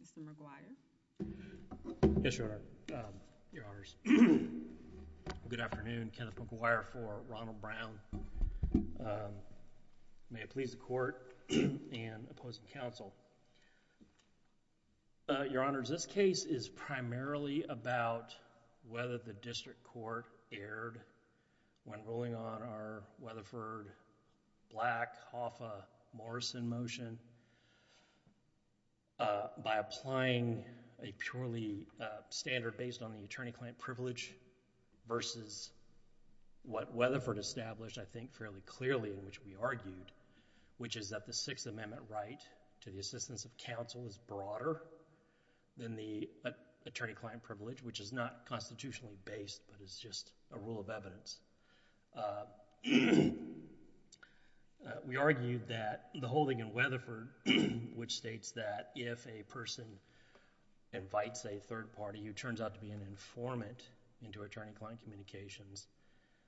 Mr. McGuire. Yes, Your Honors. Good afternoon. Kenneth McGuire for Ronald Brown. May it be a pleasure to be with you today. Thank you, Mr. McGuire. My name is Kenneth McGuire. I'm the attorney at the District Court and opposing counsel. Your Honors, this case is primarily about whether the District Court erred when ruling on our Weatherford-Black-Hoffa-Morrison motion by applying a purely standard based on the attorney-client privilege versus what Weatherford established, I think fairly clearly, in which we argued, which is that the Sixth Amendment right to the assistance of counsel is broader than the attorney-client privilege, which is not constitutionally based, but is just a rule of evidence. We argued that the holding in Weatherford, which states that if a person invites a third party who turns out to be an informant into attorney-client communications,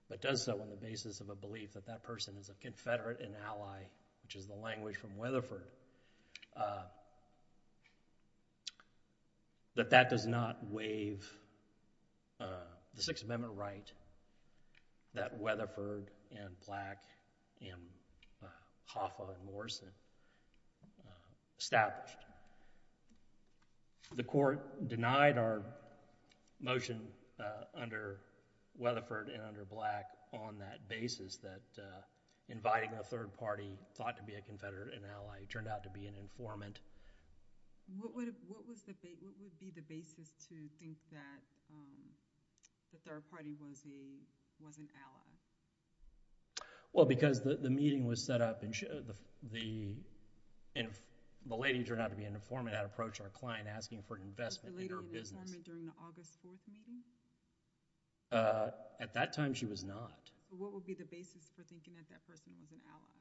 but does so on the basis of a belief that that person is a confederate and ally, which is the language from Weatherford, that that does not waive the Sixth Amendment right that Weatherford and Black and Hoffa and Morrison established. The Court denied our motion under Weatherford and under Black on that basis, that inviting a third party thought to be a confederate and ally turned out to be an informant. What would be the basis to think that the third party was an ally? If the lady turned out to be an informant, I'd approach our client asking for an investment in her business. Was the lady an informant during the August 4th meeting? At that time, she was not. What would be the basis for thinking that that person was an ally?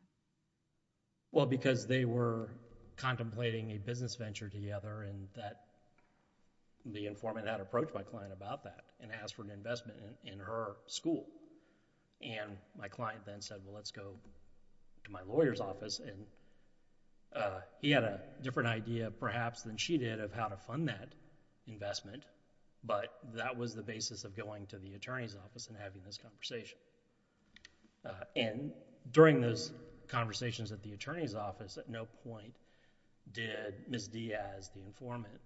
Well, because they were contemplating a business venture together and the informant, I'd approach my client about that and ask for an investment in her school. My client then said, well, let's go to my lawyer's office. He had a different idea perhaps than she did of how to fund that investment, but that was the basis of going to the attorney's office and having this conversation. During those conversations at the attorney's office, at no point did Ms. Diaz, the informant,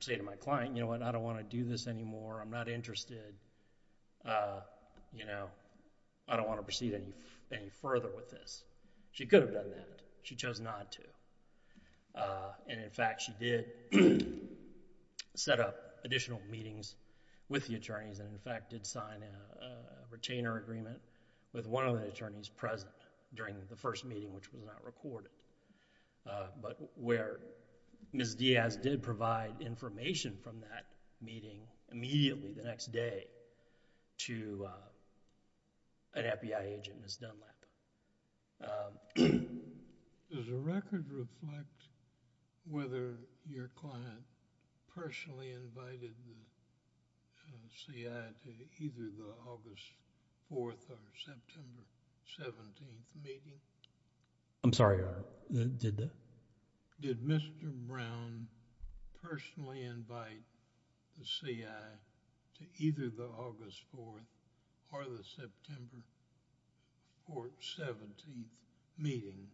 say to my client, you know what, I don't want to do this anymore. I'm not interested. I don't want to proceed any further with this. She could have done that. She chose not to. In fact, she did set up additional meetings with the attorneys and, in fact, did sign a retainer agreement with one of the attorneys present during the first meeting, which was not recorded, but where Ms. Diaz did provide information from that meeting immediately the next day to an FBI agent, Ms. Dunlap. Does the record reflect whether your client personally invited Ms. Diaz to either the August 4th or September 17th meeting? I'm sorry, did the... Did Mr. Brown personally invite Ms. Diaz to the August 4th or September 17th meeting?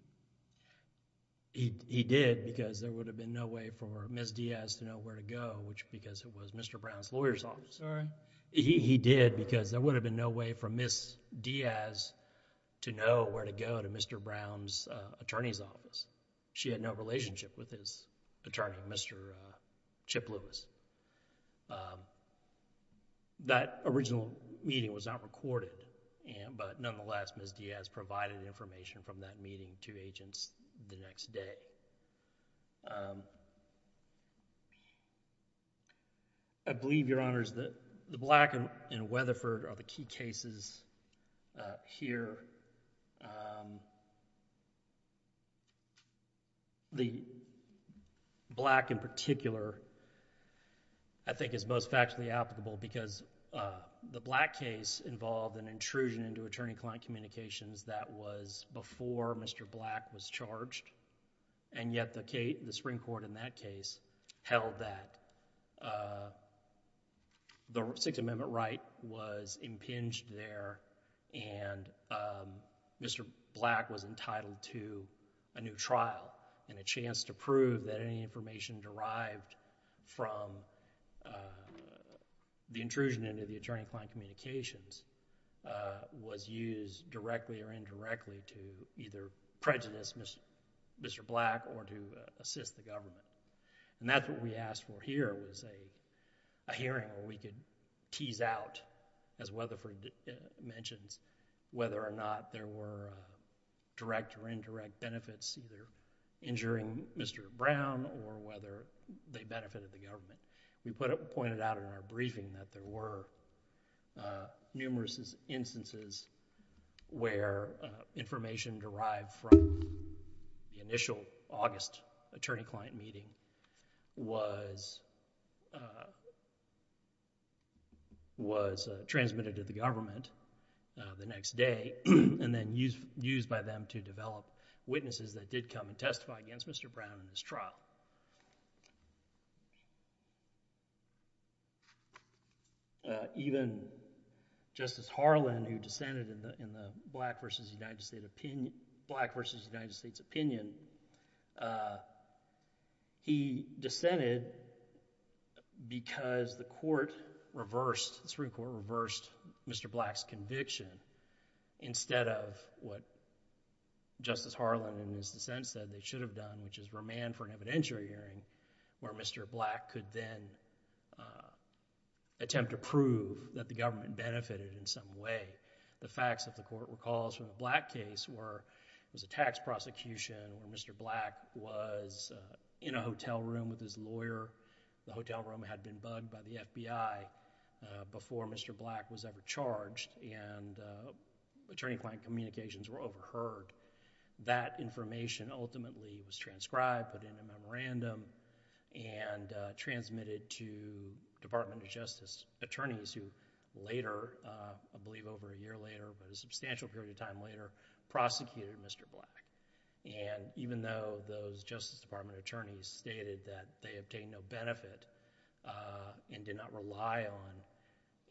He did, because there would have been no way for Ms. Diaz to know where to go, which because it was Mr. Brown's lawyer's office. I'm sorry? He did because there would have been no way for Ms. Diaz to know where to go to Mr. Brown's attorney's office. She had no relationship with his attorney, Mr. Chip Lewis. That original meeting was not recorded, but nonetheless, Ms. Diaz provided information from that meeting to agents the next day. I believe, Your Honors, that the Black and Weatherford are the key cases here. The Black, in particular, I think is most factually applicable because the Black case involved an intrusion into attorney-client communications that was before Mr. Black was charged, and yet the Supreme Court in that case held that the Sixth Amendment right was Mr. Black was entitled to a new trial and a chance to prove that any information derived from the intrusion into the attorney-client communications was used directly or indirectly to either prejudice Mr. Black or to assist the government. That's what we asked for here, was a hearing where we could tease out, as Weatherford mentions, whether or not there were direct or indirect benefits, either injuring Mr. Brown or whether they benefited the government. We pointed out in our briefing that there were numerous instances where information derived from the initial August attorney-client meeting was transmitted to the government the next day and then used by them to develop witnesses that did come and testify against Mr. Brown in this trial. Even Justice Harlan, who dissented in the Black v. United States opinion, he dissented because the Supreme Court reversed Mr. Black's conviction instead of what Justice Harlan in his dissent said they should have done, which is remand for an evidentiary hearing where Mr. Black could then attempt to prove that the government benefited in some way. The facts that the Court recalls from the Black case were there was a tax prosecution where Mr. Black was in a hotel room with his lawyer. The hotel room had been bugged by the FBI before Mr. Black was ever charged and attorney-client communications were overheard. That information ultimately was transcribed, put in a memorandum, and transmitted to Department of Justice attorneys who later, I believe over a year later, but a substantial period of time later, prosecuted Mr. Black. Even though those Justice Department attorneys stated that they obtained no benefit and did not rely on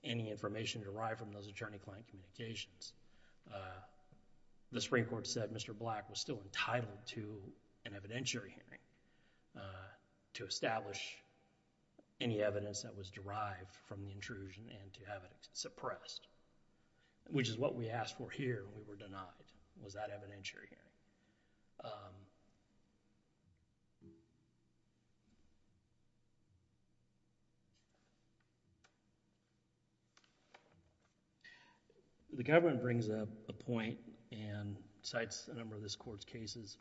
any information derived from those attorney-client communications, the Supreme Court said Mr. Black was still entitled to an evidentiary hearing to establish any evidence that was derived from the intrusion and to be suppressed, which is what we asked for here. We were denied. It was that evidentiary hearing. The government brings up a point and cites a number of the Supreme Court's cases,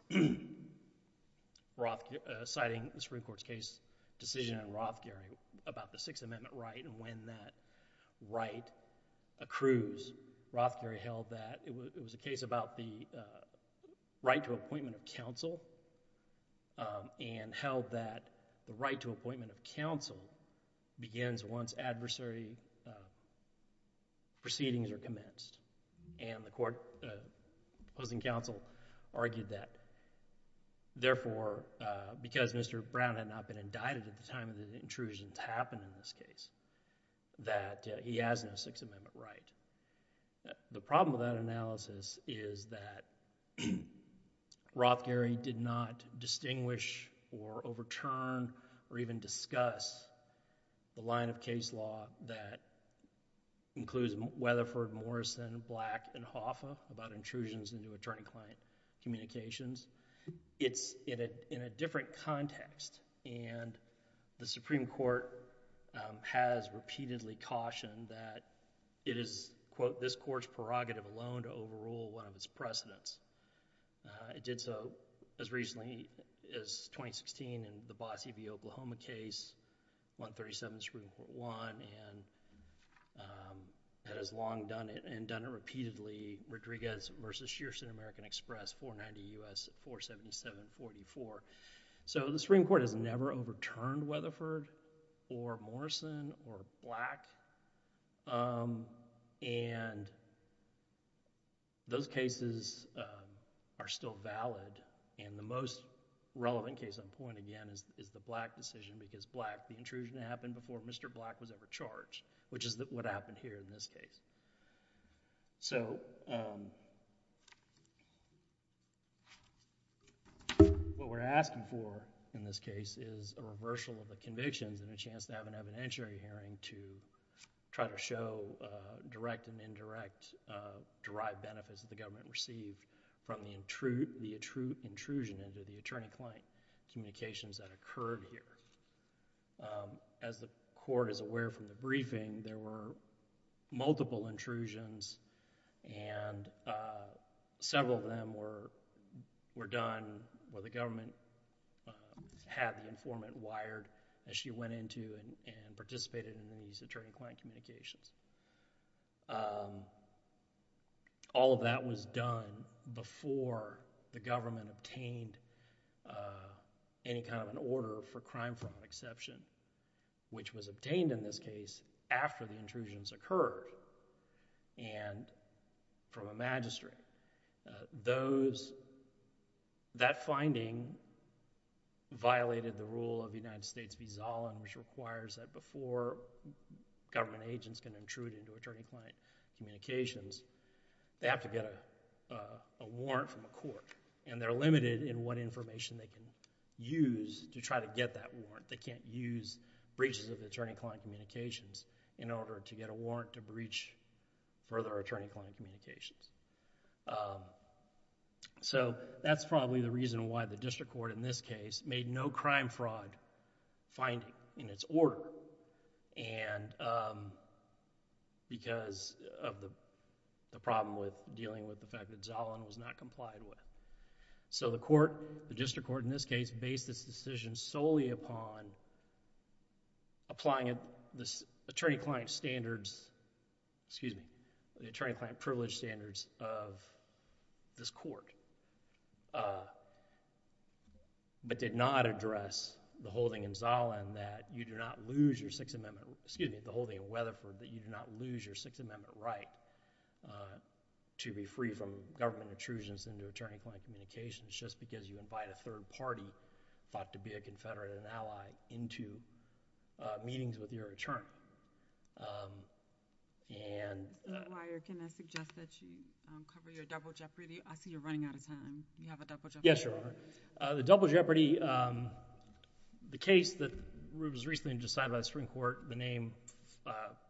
citing the Supreme Court's case decision in Rothgary about the Sixth Amendment right and when that right accrues. Rothgary held that it was a case about the right to appointment of counsel and held that the right to appointment of counsel begins once adversary proceedings are commenced. The opposing counsel argued that. Therefore, because Mr. Rothgary was a Brown and had not been indicted at the time of the intrusion to happen in this case, that he has no Sixth Amendment right. The problem with that analysis is that Rothgary did not distinguish or overturn or even discuss the line of case law that includes Weatherford, Morrison, Black, and Hoffa about intrusions into attorney-client communications. It's in a different context and the Supreme Court has repeatedly cautioned that it is, quote, this Court's prerogative alone to overrule one of its precedents. It did so as recently as 2016 in the Bossie v. Oklahoma case, 137, Supreme Court 1, and has long done it and Rodriguez v. Shearson American Express 490 U.S. 47744. So the Supreme Court has never overturned Weatherford or Morrison or Black and those cases are still valid and the most relevant case on point again is the Black decision because Black, the intrusion happened before Mr. Black was ever charged, which is what happened here in this case. What we're asking for in this case is a reversal of the convictions and a chance to have an evidentiary hearing to try to show direct and indirect derived benefits that the government received from the intrusion into the attorney-client communications that occurred here. As the Court is aware from the briefing, there were multiple intrusions and several of them were done where the government had the informant wired as she went into and participated in these attorney-client communications. All of that was done before the government obtained any kind of an order for crime from exception, which was obtained in this case after the intrusions occurred and from a magistrate. Those, that finding violated the rule of the United States v. Zollin which requires that before government agents can intrude into attorney-client communications, they have to get a warrant from the court and they're limited in what information they can use to try to get that warrant. They can't use breaches of attorney-client communications in order to get a warrant to breach further attorney-client communications. That's probably the reason why the district court in this case made no crime-fraud finding in its order and because of the problem with dealing with the fact that Zollin was not complied with. So the court, the district court in this case based its decision solely upon applying this attorney-client standards, excuse me, attorney-client privilege standards of this court, but did not address the holding in Zollin that you do not lose your Sixth Amendment, excuse me, the holding in Weatherford that you do not lose your Sixth Amendment right to be free from government intrusions into attorney-client communications just because you invite a third party, thought to be a confederate, an ally into meetings with your attorney and... Mr. Breyer, can I suggest that you cover your double jeopardy? I see you're running out of time. Do you have a double jeopardy? Yes, Your Honor. The double jeopardy, the case that was recently decided by the Supreme Court, the name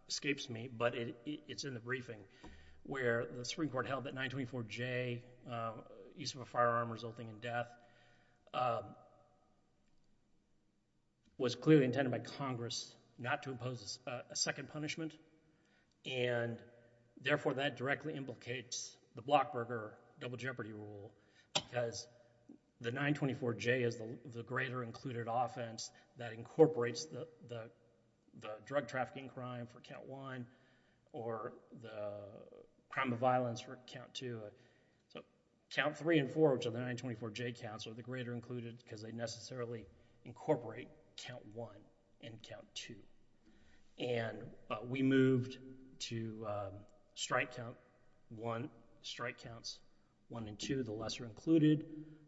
escapes me, but it's in the briefing where the Supreme Court held that 924J, use of a firearm resulting in death, was clearly intended by Congress not to impose a second punishment and therefore that directly implicates the Blockburger double jeopardy rule because the 924J is the greater included offense that incorporates the double jeopardy the drug trafficking crime for count one or the crime of violence for count two. So count three and four, which are the 924J counts, are the greater included because they necessarily incorporate count one and count two. And we moved to strike count one, strike counts one and two, the lesser included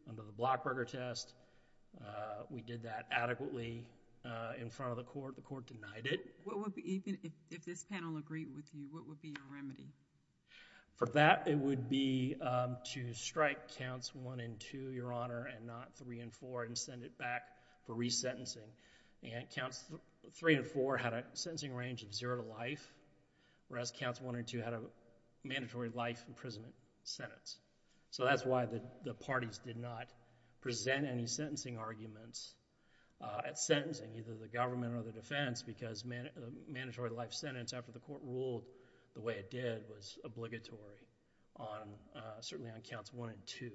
under the Blockburger test. We did that adequately in front of the court. The court denied it. Even if this panel agreed with you, what would be your remedy? For that, it would be to strike counts one and two, Your Honor, and not three and four and send it back for resentencing. And counts three and four had a sentencing range of zero to life, whereas counts one and two had a mandatory life imprisonment sentence. So that's why the parties did not present any sentencing arguments at sentencing, either the government or the defense, because the mandatory life sentence after the court ruled the way it did was obligatory, certainly on counts one and two.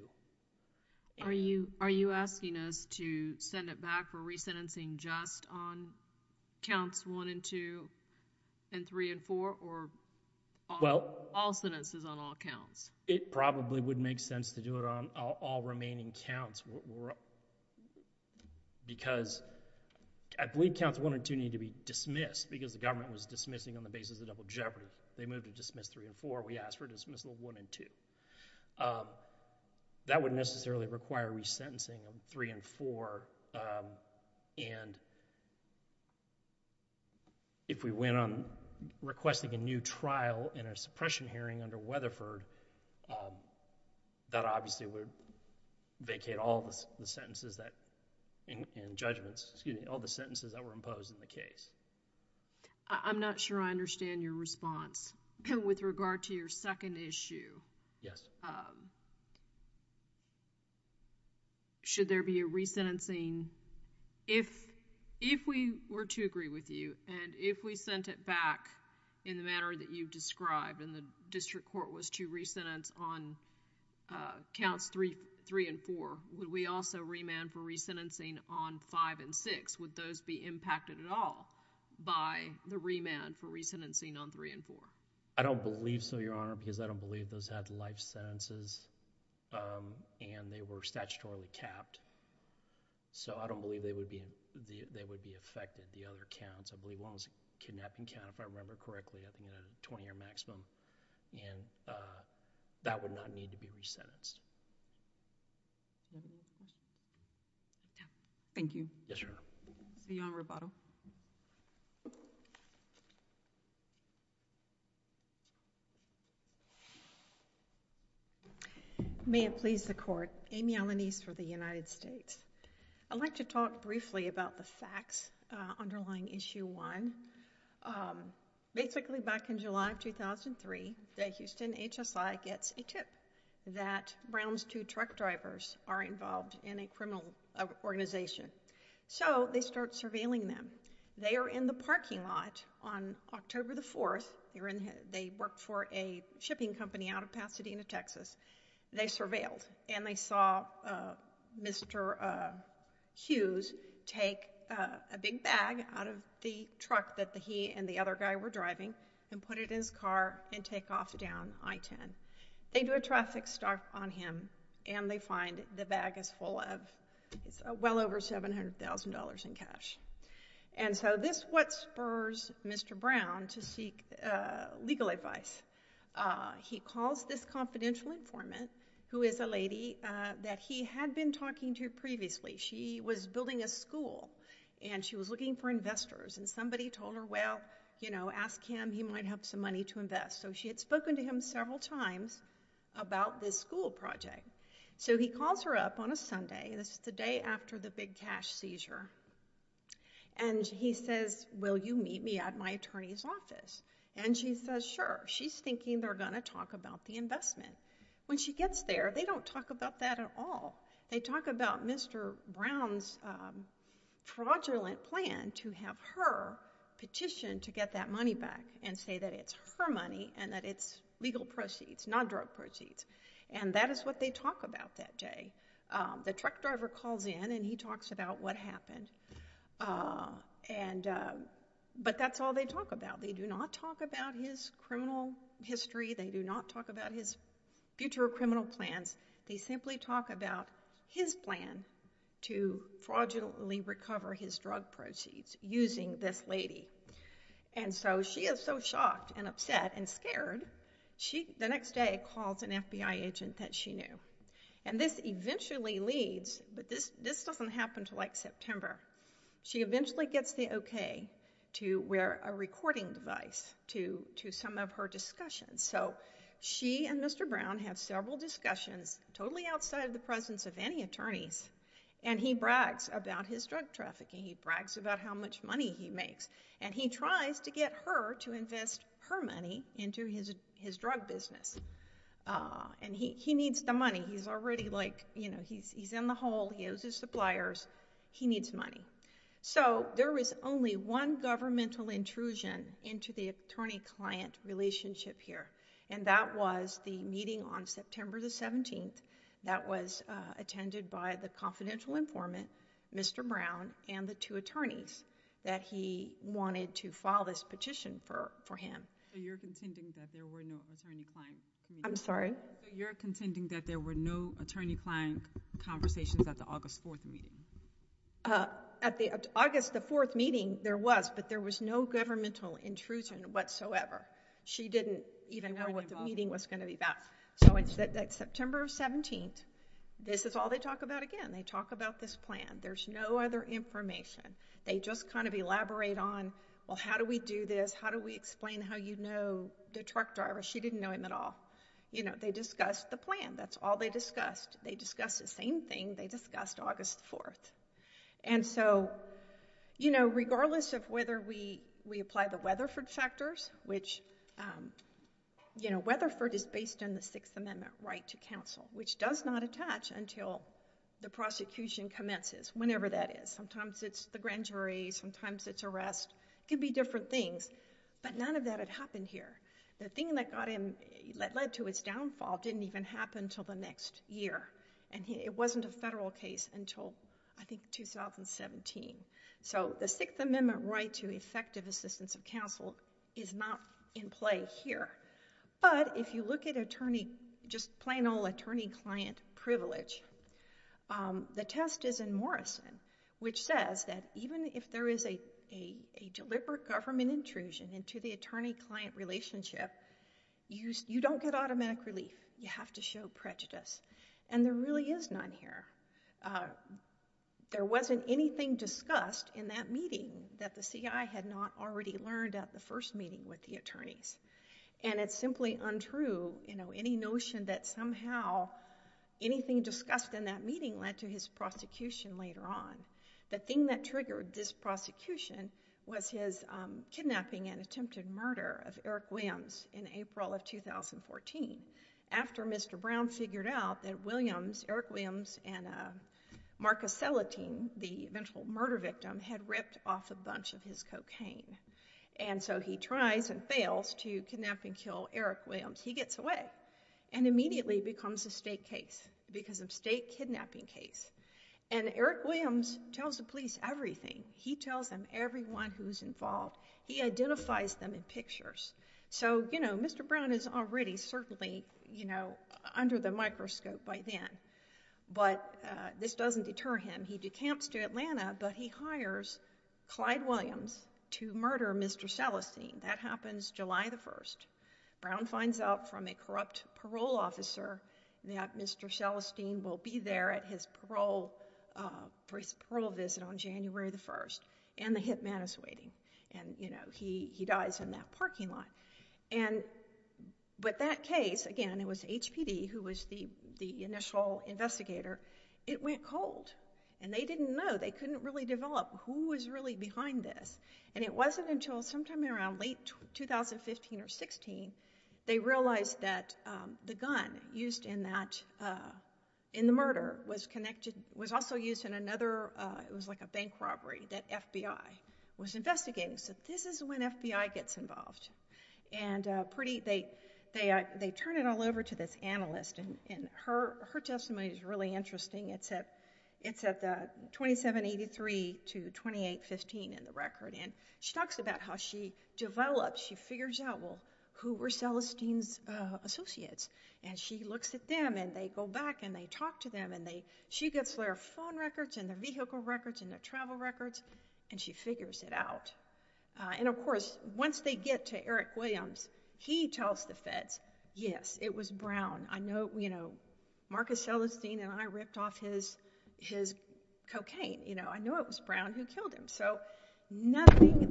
Are you asking us to send it back for resentencing just on counts one and two and three and four or all sentences on all counts? It probably would make sense to do it on all remaining counts, because I believe counts one and two need to be dismissed, because the government was dismissing on the basis of double jeopardy. They moved to dismiss three and four. We asked for dismissal of one and two. That wouldn't necessarily require resentencing on three and four. And if we went on requesting a new trial in a suppression hearing under Weatherford, that obviously would vacate all the sentences that, and judgments, excuse me, all the sentences that were imposed in the case. I'm not sure I understand your response with regard to your second issue. Yes. Should there be a resentencing, if we were to agree with you, and if we sent it back in the manner that you described and the district court was to resentence on counts three and four, would we also remand for resentencing on five and six? Would those be impacted at all by the remand for resentencing on three and four? I don't believe so, Your Honor, because I don't believe those had life sentences, and they were statutorily capped. So I don't believe they would be affected, the other counts. I believe one was a kidnapping count, if I remember correctly. I think it had a 20-year maximum, and that would not need to be resentenced. Thank you. Yes, Your Honor. See you on Roboto. May it please the Court. Amy Alaniz for the United States. I'd like to talk briefly about the facts underlying Issue 1. Basically, back in July of 2003, Houston HSI gets a tip that Brown's two truck drivers are involved in a criminal organization, so they start surveilling them. They are in the parking lot on October the 4th. You're aware that they work for a shipping company out of Pasadena, Texas. They surveilled, and they saw Mr. Hughes take a big bag out of the truck that he and the other guy were driving and put it in his car and take off down I-10. They do a traffic stop on him, and they find the bag is full of well over $700,000 in cash. And so this is what spurs Mr. Brown to seek legal advice. He calls this confidential informant, who is a lady that he had been talking to previously. She was building a school, and she was looking for investors, and somebody told her, well, ask him. He might have some money to invest. So she had spoken to him several times about this school project. So he calls her up on a Sunday. This is the day after the big cash seizure, and he says, will you meet me at my attorney's office? And she says, sure. She's thinking they're going to talk about the investment. When she gets there, they don't talk about that at all. They talk about Mr. Brown's fraudulent plan to have her petition to get that money back and say that it's her money and that it's legal proceeds, not drug proceeds. And that is what they talk about that day. The truck driver calls in, and he talks about what happened, but that's all they talk about. They do not talk about his criminal history. They do not talk about his future criminal plans. They simply talk about his plan to fraudulently recover his drug proceeds using this lady. And so she is so shocked and upset and scared, the next day calls an FBI agent that she knew. And this eventually leads, but this doesn't happen until, like, September. She eventually gets the okay to wear a recording device to some of her discussions. So she and Mr. Brown have several discussions totally outside of the presence of any attorneys, and he brags about his drug trafficking. He tries to get her to invest her money into his drug business. And he needs the money. He's already, like, you know, he's in the hole. He owes his suppliers. He needs money. So there is only one governmental intrusion into the attorney-client relationship here, and that was the meeting on September the 17th that was attended by the confidential informant, Mr. Brown, and the two attorneys that he wanted to file this petition for him. So you're contending that there were no attorney-client conversations at the August 4th meeting? At the August the 4th meeting, there was, but there was no governmental intrusion whatsoever. She didn't even know what the meeting was going to be about. So it's September 17th. This is all they talk about again. They talk about this plan. There's no other information. They just kind of elaborate on, well, how do we do this? How do we explain how you know the truck driver? She didn't know him at all. You know, they discussed the plan. That's all they discussed. They discussed the same thing they discussed August 4th. And so, you know, regardless of whether we apply the Weatherford factors, which, you know, Weatherford is based on the Sixth Amendment right to counsel, which does not attach until the prosecution commences, whenever that is. Sometimes it's the grand jury. Sometimes it's arrest. It can be different things, but none of that had happened here. The thing that got him, that led to his downfall didn't even happen until the next year. And it wasn't a federal case until, I think, 2017. So the Sixth Amendment right to effective assistance of counsel is not in play here. But if you look at attorney, just plain old attorney-client privilege, the test is in Morrison, which says that even if there is a deliberate government intrusion into the attorney-client relationship, you don't get automatic relief. You have to show prejudice. And there really is none here. There wasn't anything discussed in that meeting that the guy had not already learned at the first meeting with the attorneys. And it's simply untrue, you know, any notion that somehow anything discussed in that meeting led to his prosecution later on. The thing that triggered this prosecution was his kidnapping and attempted murder of Eric Williams in April of 2014 after Mr. Brown figured out that Williams, Eric was his cocaine. And so he tries and fails to kidnap and kill Eric Williams. He gets away and immediately becomes a state case because of state kidnapping case. And Eric Williams tells the police everything. He tells them everyone who's involved. He identifies them in pictures. So, you know, Mr. Brown is already certainly, you know, under the microscope by then. But this doesn't deter him. He decamps to Atlanta, but he hires Clyde Williams to murder Mr. Shelestine. That happens July the 1st. Brown finds out from a corrupt parole officer that Mr. Shelestine will be there at his parole visit on January the 1st. And the hitman is waiting. And, you know, he dies in that parking lot. And with that case, again, it was HPD who was the initial investigator. It went cold. And they didn't know. They couldn't really develop who was really behind this. And it wasn't until sometime around late 2015 or 16, they realized that the gun used in that, in the murder was connected, was also used in another, it was like a bank robbery that FBI was investigating. So this is when FBI gets involved. And pretty, they turn it all over to this analyst. And her testimony is really interesting. It's at 2783 to 2815 in the record. And she talks about how she develops, she figures out who were Shelestine's associates. And she looks at them and they go back and they talk to them and they, she gets their phone records and their vehicle records and their travel records and she figures it out. And, of course, once they get to Eric Williams, he tells the feds, yes, it was Brown. I know, you know, Marcus Shelestine and I ripped off his cocaine. You know, I know it was Brown who killed him. So nothing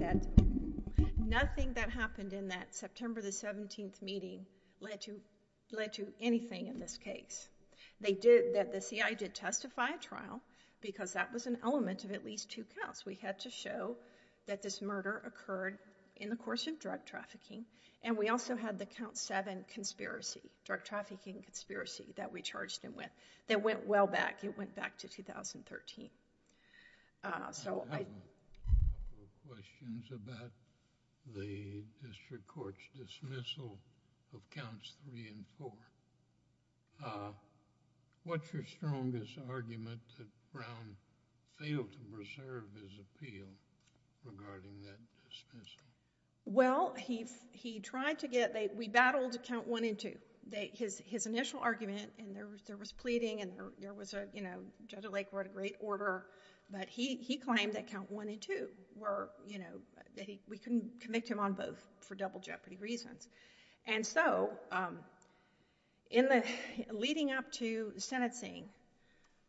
that happened in that September the 17th meeting led to anything in this case. They did, the CI did testify at trial because that was an element of at least two counts. We had to show that this murder occurred in the course of drug trafficking. And we also had the count seven conspiracy, drug trafficking conspiracy, that we charged him with. That went well back. It went back to 2013. So I... I have a couple of questions about the district court's dismissal of counts three and four. What's your strongest argument that Brown failed to preserve his appeal regarding that dismissal? Well, he tried to get, we battled count one and two. His initial argument and there was pleading and there was a, you know, Judge Lake wrote a great order, but he claimed that count one and two were, you know, we couldn't convict him on both for double jeopardy reasons. And so in the, leading up to sentencing,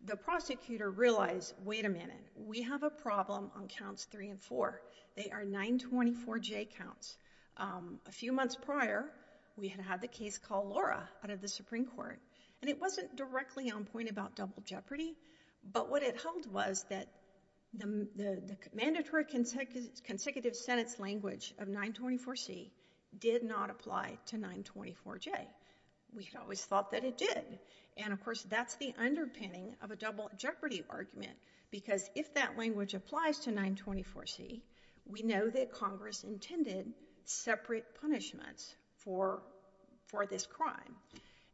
the prosecutor realized, wait a minute, we have a problem on counts three and four. They are 924J counts. A few months prior, we had had the case called Laura out of the Supreme Court and it wasn't directly on point about double jeopardy, but what it held was that the mandatory consecutive sentence language of 924C did not apply to 924J. We always thought that it did. And of course, that's the underpinning of a double jeopardy argument because if that language applies to 924C, we know that Congress intended separate punishments for this crime.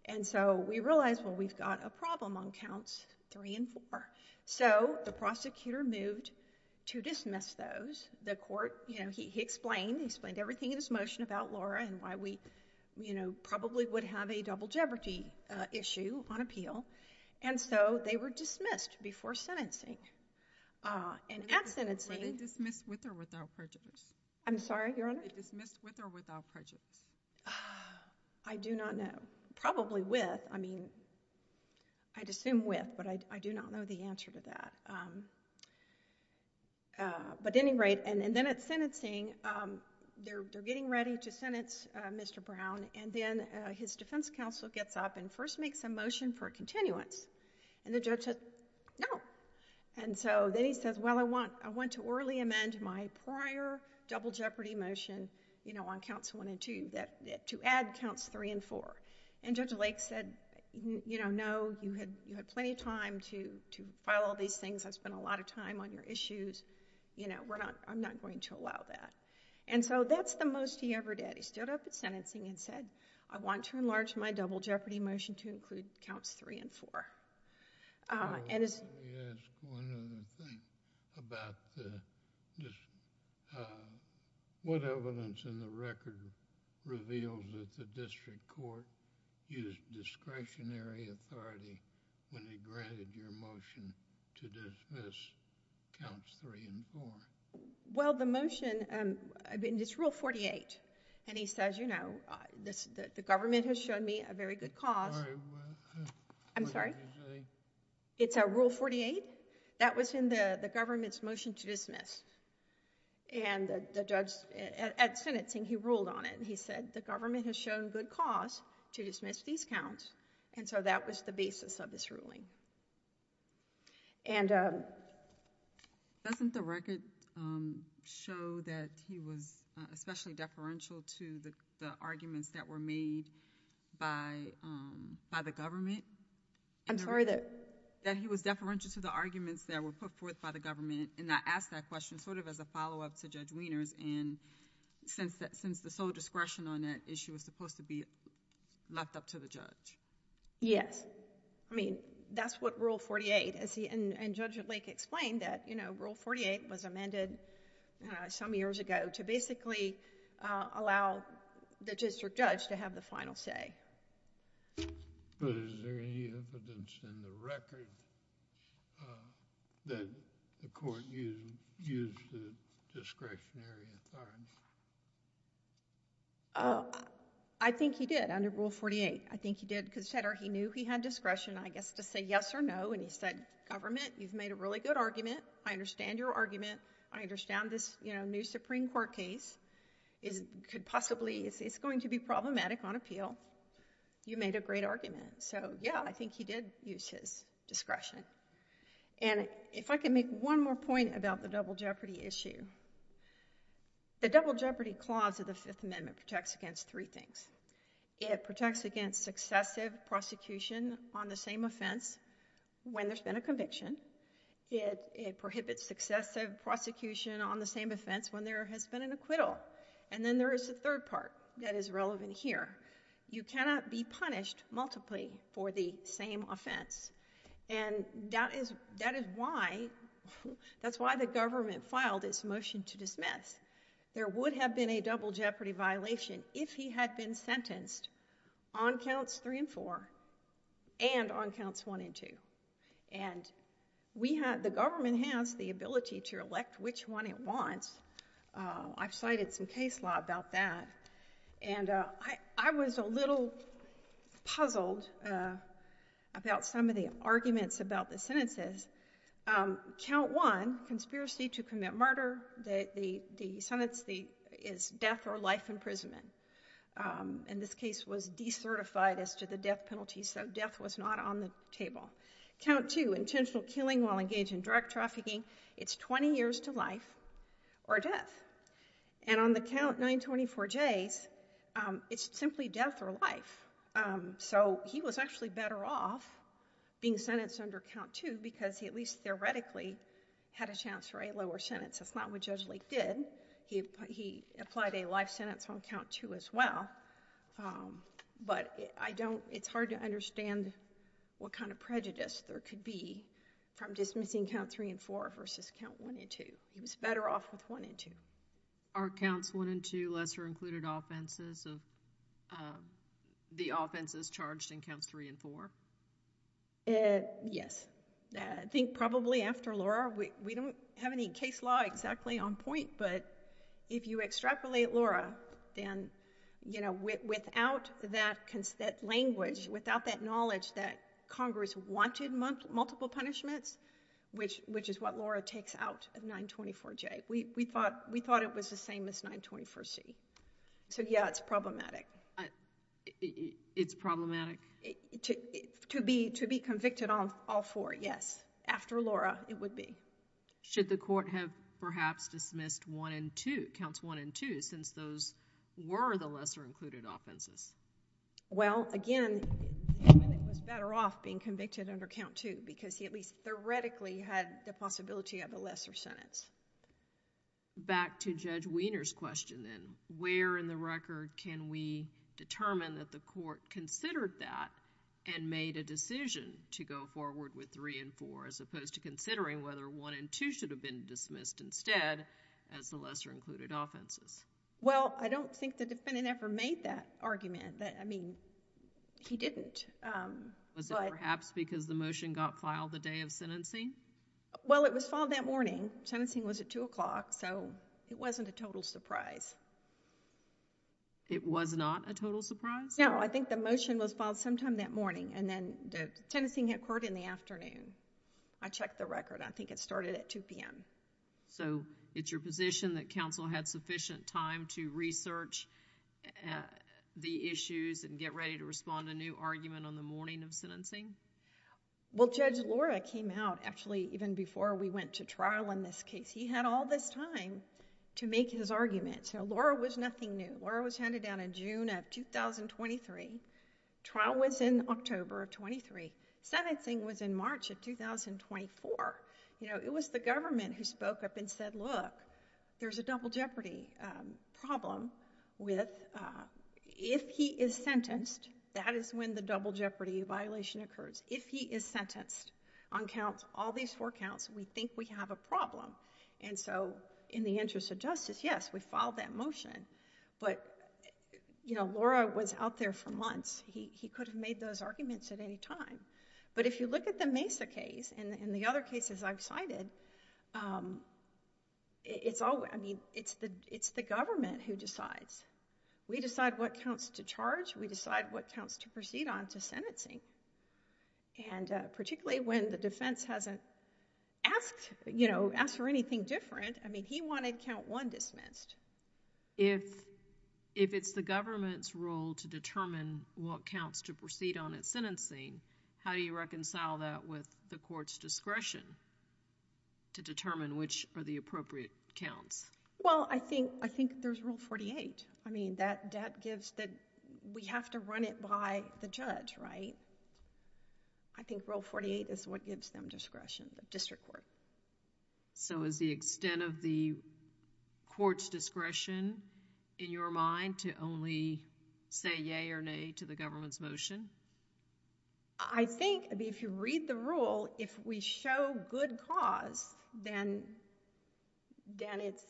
And so we realized, well, we've got a problem on counts three and four. So the prosecutor moved to dismiss those. The court, you know, he explained, he explained everything in his motion about Laura and why we, you know, probably would have a double jeopardy issue on appeal. And so they were dismissed before sentencing. And at sentencing— Were they dismissed with or without prejudice? I'm sorry, Your Honor? Were they dismissed with or without prejudice? I do not know. Probably with. I mean, I'd assume with, but I do not know the answer to that. But at any rate, and then at sentencing, they're getting ready to sentence Mr. Brown and then his defense counsel gets up and first makes a motion for a continuance. And the judge says, no. And so then he says, well, I want to orally amend my prior double jeopardy motion, you know, on counts one and two to add counts three and four. And Judge Lake said, you know, no, you had plenty of time to file all these things. I've spent a lot of time on your issues. You know, I'm not going to allow that. And so that's the most he ever did. He stood up at sentencing and said, I want to enlarge my double jeopardy motion to include counts three and four. Let me ask one other thing about this. What evidence in the record reveals that the district court used discretionary authority when it granted your motion to dismiss counts three and four? Well, the motion, it's Rule 48. And he says, you know, the government has shown me a very good cause. I'm sorry? It's a Rule 48? That was in the government's motion to dismiss. And the judge at sentencing, he ruled on it. He said, the government has shown good cause to dismiss these counts. And so that was the basis of this ruling. And doesn't the record show that he was especially deferential to the arguments that were made by the government? I'm sorry? That he was deferential to the arguments that were put forth by the government. And I asked that question sort of as a follow-up to Judge Wieners. And since the sole discretion on that issue was supposed to be left up to the judge. Yes. I mean, that's what Rule 48 is. And Judge Lake explained that, you know, Rule 48 was amended some years ago to basically allow the district judge to have the final say. But is there any evidence in the record that the court used discretionary authority? I think he did, under Rule 48. I think he did, because he knew he had discretion, I guess, to say yes or no. And he said, government, you've made a really good argument. I understand your argument. I understand this new Supreme Court case could possibly, it's going to be problematic on appeal. You made a great argument. So yeah, I think he did use his discretion. And if I can make one more point about the double jeopardy issue, the double jeopardy clause of the Fifth Amendment protects against three things. It protects against successive prosecution on the same offense when there's been a conviction. It prohibits successive prosecution on the same offense when there has been an acquittal. And then there is a third part that is relevant here. You cannot be punished multiply for the same offense. And that is why, that's why the government filed its motion to dismiss. There would have been a double jeopardy violation if he had been sentenced on counts three and four and on counts one and two. And we have, the government has the ability to elect which one it wants. I've cited some case law about that. And I was a little puzzled about some of the arguments about the sentences. Count one, conspiracy to commit murder. The sentence is death or life imprisonment. And this case was decertified as to the death penalty, so death was not on the table. Count two, intentional killing while engaged in drug trafficking. It's 20 years to life or death. And on the count 924Js, it's simply death or life. So he was actually better off being sentenced under count two because he at least theoretically had a chance for a lower sentence. That's not what Judge Lake did. He applied a life sentence on count two as well. But I don't, it's hard to understand what kind of prejudice there could be from dismissing count three and four versus count one and two. He was better off with one and two. Are counts one and two lesser included offenses of the offenses charged in counts three and four? Yes. I think probably after Laura, we don't have any case law exactly on point, but if you extrapolate Laura, then, you know, without that language, without that knowledge that Congress wanted multiple punishments, which is what Laura takes out of 924J. We thought it was the same as 924C. So yeah, it's problematic. It's problematic? To be convicted on all four, yes. After Laura, it would be. Should the court have perhaps dismissed one and two, counts one and two, since those were the lesser included offenses? Well, again, he was better off being convicted under count two because he at least theoretically had the possibility of a lesser sentence. Back to Judge Wiener's question then. Where in the record can we determine that the court considered that and made a decision to go forward with three and four as opposed to considering whether one and two should have been dismissed instead as the lesser included offenses? Well, I don't think the defendant ever made that argument. I mean, he didn't. Was it perhaps because the motion got filed the day of sentencing? Well, it was filed that morning. Sentencing was at 2 o'clock, so it wasn't a total surprise. It was not a total surprise? No. I think the motion was filed sometime that morning, and then the sentencing occurred in the afternoon. I checked the record. I think it started at 2 p.m. It's your position that counsel had sufficient time to research the issues and get ready to respond to a new argument on the morning of sentencing? Well, Judge Lora came out actually even before we went to trial in this case. He had all this time to make his argument. Lora was nothing new. Lora was handed down in June of 2023. Trial was in October of 23. Sentencing was in March of 2024. It was the government who spoke up and said, look, there's a double jeopardy problem. If he is sentenced, that is when the double jeopardy violation occurs. If he is sentenced on all these four counts, we think we have a problem. In the interest of justice, yes, we filed that motion, but Lora was out there for months. He could have made those arguments at any time. If you look at the Mesa case and the other cases I've cited, it's the government who decides. We decide what counts to charge. We decide what counts to proceed on to sentencing. Particularly when the defense hasn't asked for anything different. He wanted count one dismissed. If it's the government's role to determine what counts to proceed on at sentencing, how do you reconcile that with the court's discretion to determine which are the appropriate counts? I think there's Rule 48. We have to run it by the judge, right? I think Rule 48 is what gives them discretion, the district court. Is the extent of the court's discretion in your mind to only say yay or nay to the government's motion? I think if you read the rule, if we show good cause, then it's...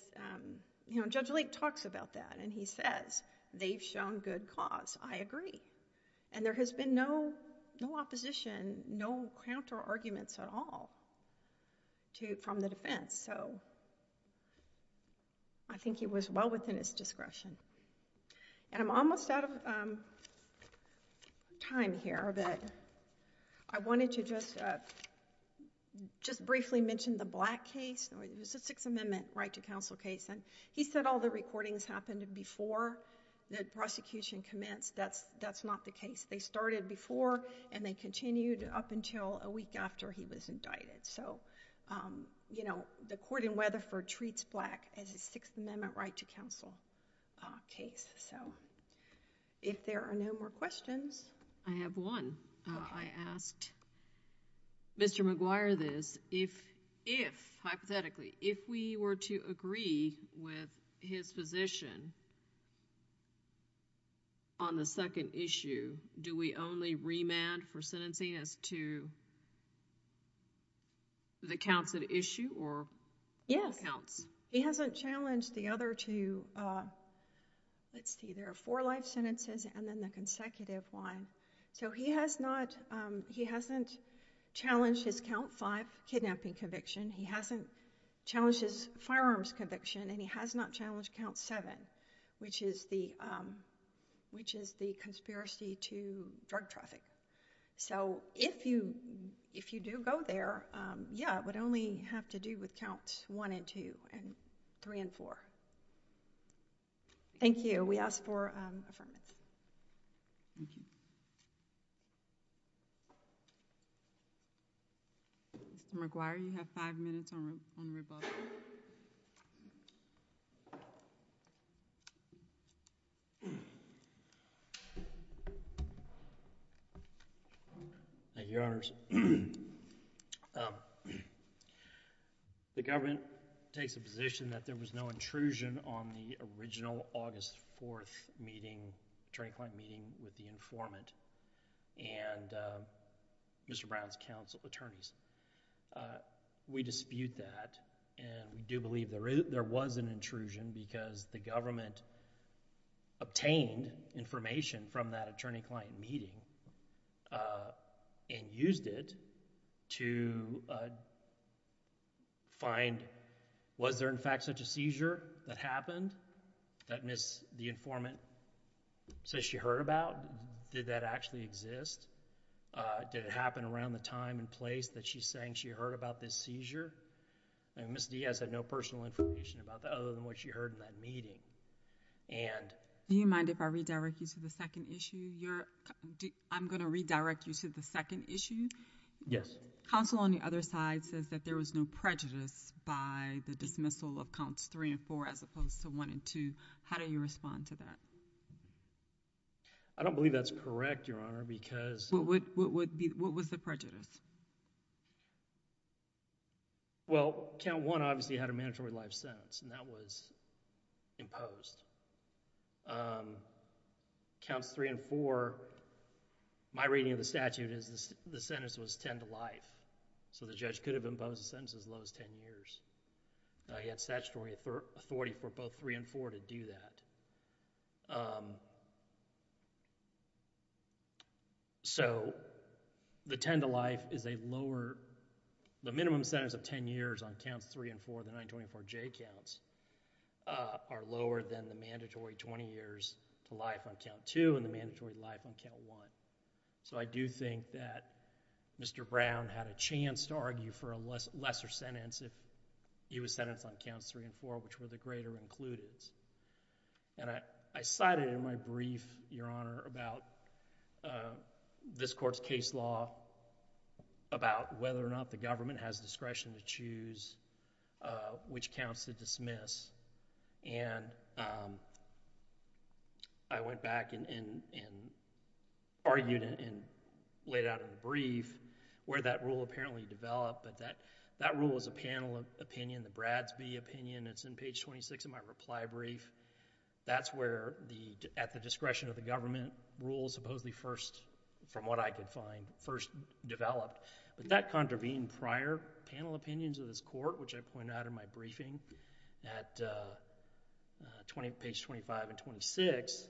Judge Lake talks about that and he says, they've shown good cause. I agree. There has been no opposition, no counter-arguments at all from the defense. I think he was well within his discretion. I'm almost out of time here, but I wanted to just briefly mention the Black case. It was a Sixth Amendment right to counsel case. He said all the recordings happened before the prosecution commenced. That's not the case. They started before and they continued up until a week after he was indicted. The court in Weatherford treats Black as a Sixth Amendment right to counsel case. If there are no more questions... I have one. I asked Mr. McGuire this. If, hypothetically, if we were to agree with his position on the second issue, do we only remand for sentencing as second? To the counts at issue or... Yes.... the counts. He hasn't challenged the other two. Let's see. There are four life sentences and then the consecutive one. He hasn't challenged his Count 5 kidnapping conviction. He hasn't challenged his firearms conviction and he has not challenged Count 7, which is the conspiracy to drug traffic. If you do go there, yes, it would only have to do with Counts 1 and 2 and 3 and 4. Thank you. We ask for affirmation. Thank you. Mr. McGuire, you have five minutes on rebuttal. Thank you, Your Honors. The government takes a position that there was no intrusion on the original August 4th meeting, attorney-client meeting with the informant and Mr. Brown's counsel attorneys. We dispute that and we do believe there was an intrusion because the government obtained information from that attorney-client meeting and used it to find was there in fact such a seizure that happened that Ms.... the informant says she heard about? Did that actually exist? Did it happen around the time and place that she's saying she heard about this seizure? Ms. Diaz had no personal information about that other than what she heard in that meeting. Do you mind if I redirect you to the second issue? I'm going to redirect you to the second issue. Yes. Counsel on the other side says that there was no prejudice by the dismissal of Counts 3 and 4 as opposed to 1 and 2. How do you respond to that? I don't believe that's correct, Your Honor, because... What was the prejudice? Well, Count 1 obviously had a mandatory life sentence and that was imposed. Counts 3 and 4, my reading of the statute is the sentence was ten to life, so the judge could have imposed a sentence as low as ten years. He had statutory authority for both 3 and 4 to do that. So, the ten to life is a lower, the minimum sentence of ten years on Counts 3 and 4, the 924J counts, are lower than the mandatory 20 years to life on Count 2 and the mandatory life on Count 1. So, I do think that Mr. Brown had a chance to argue for a lesser sentence if he was sentenced on Counts 3 and 4, which were the greater included. And I cited in my brief, Your Honor, about this court's case law about whether or not the government has discretion to choose which counts to dismiss. And I went back and argued and laid out in the brief where that rule apparently developed, but that rule is a panel opinion, the Bradsby opinion. It's in page 26 of my reply brief. That's where the, at the discretion of the government rules supposedly first, from what I could find, first developed. But that contravened prior panel opinions of this court, which I point out in my briefing at page 25 and 26.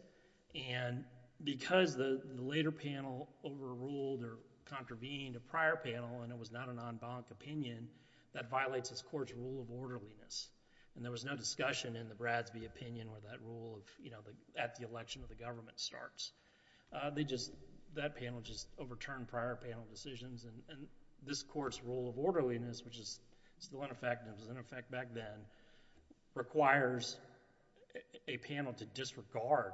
And because the later panel overruled or contravened a prior panel and it was not an en banc opinion, that violates this court's rule of orderliness. And there was no discussion in the Bradsby opinion where that rule of, you know, at the election of the government starts. They just, that panel just overturned prior panel decisions and this court's rule of orderliness, which is still in effect and was in effect back then, requires a panel to disregard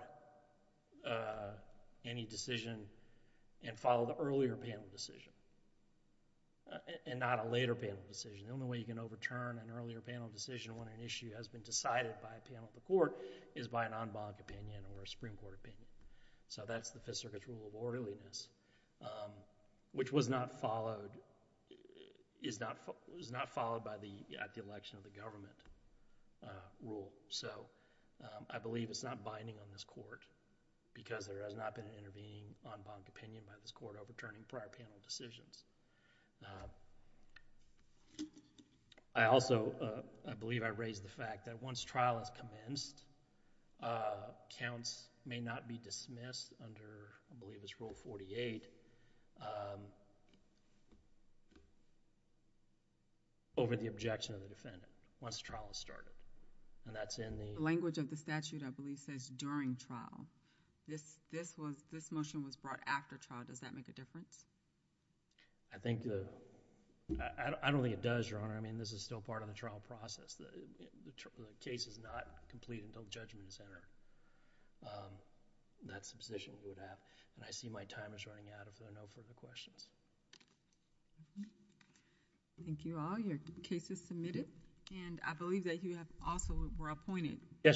any decision and follow the earlier panel decision and not a later panel decision. The only way you can overturn an earlier panel decision when an issue has been decided by a panel of the court is by an en banc opinion or a Supreme Court opinion. So, that's the Fifth Circuit's rule of orderliness, which was not followed, is not, was not followed by the, at the election of the government rule. So, I believe it's not binding on this court because there has not been an intervening en banc opinion by this court overturning prior panel decisions. I also, I believe I raised the fact that once trial has commenced, counts may not be dismissed under, I believe it's Rule 48, over the objection of the defendant once trial has started. And that's in the... My pleasure, Your Honor. Thank you.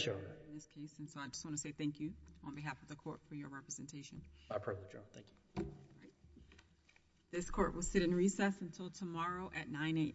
This court will sit in recess until tomorrow at 9 a.m.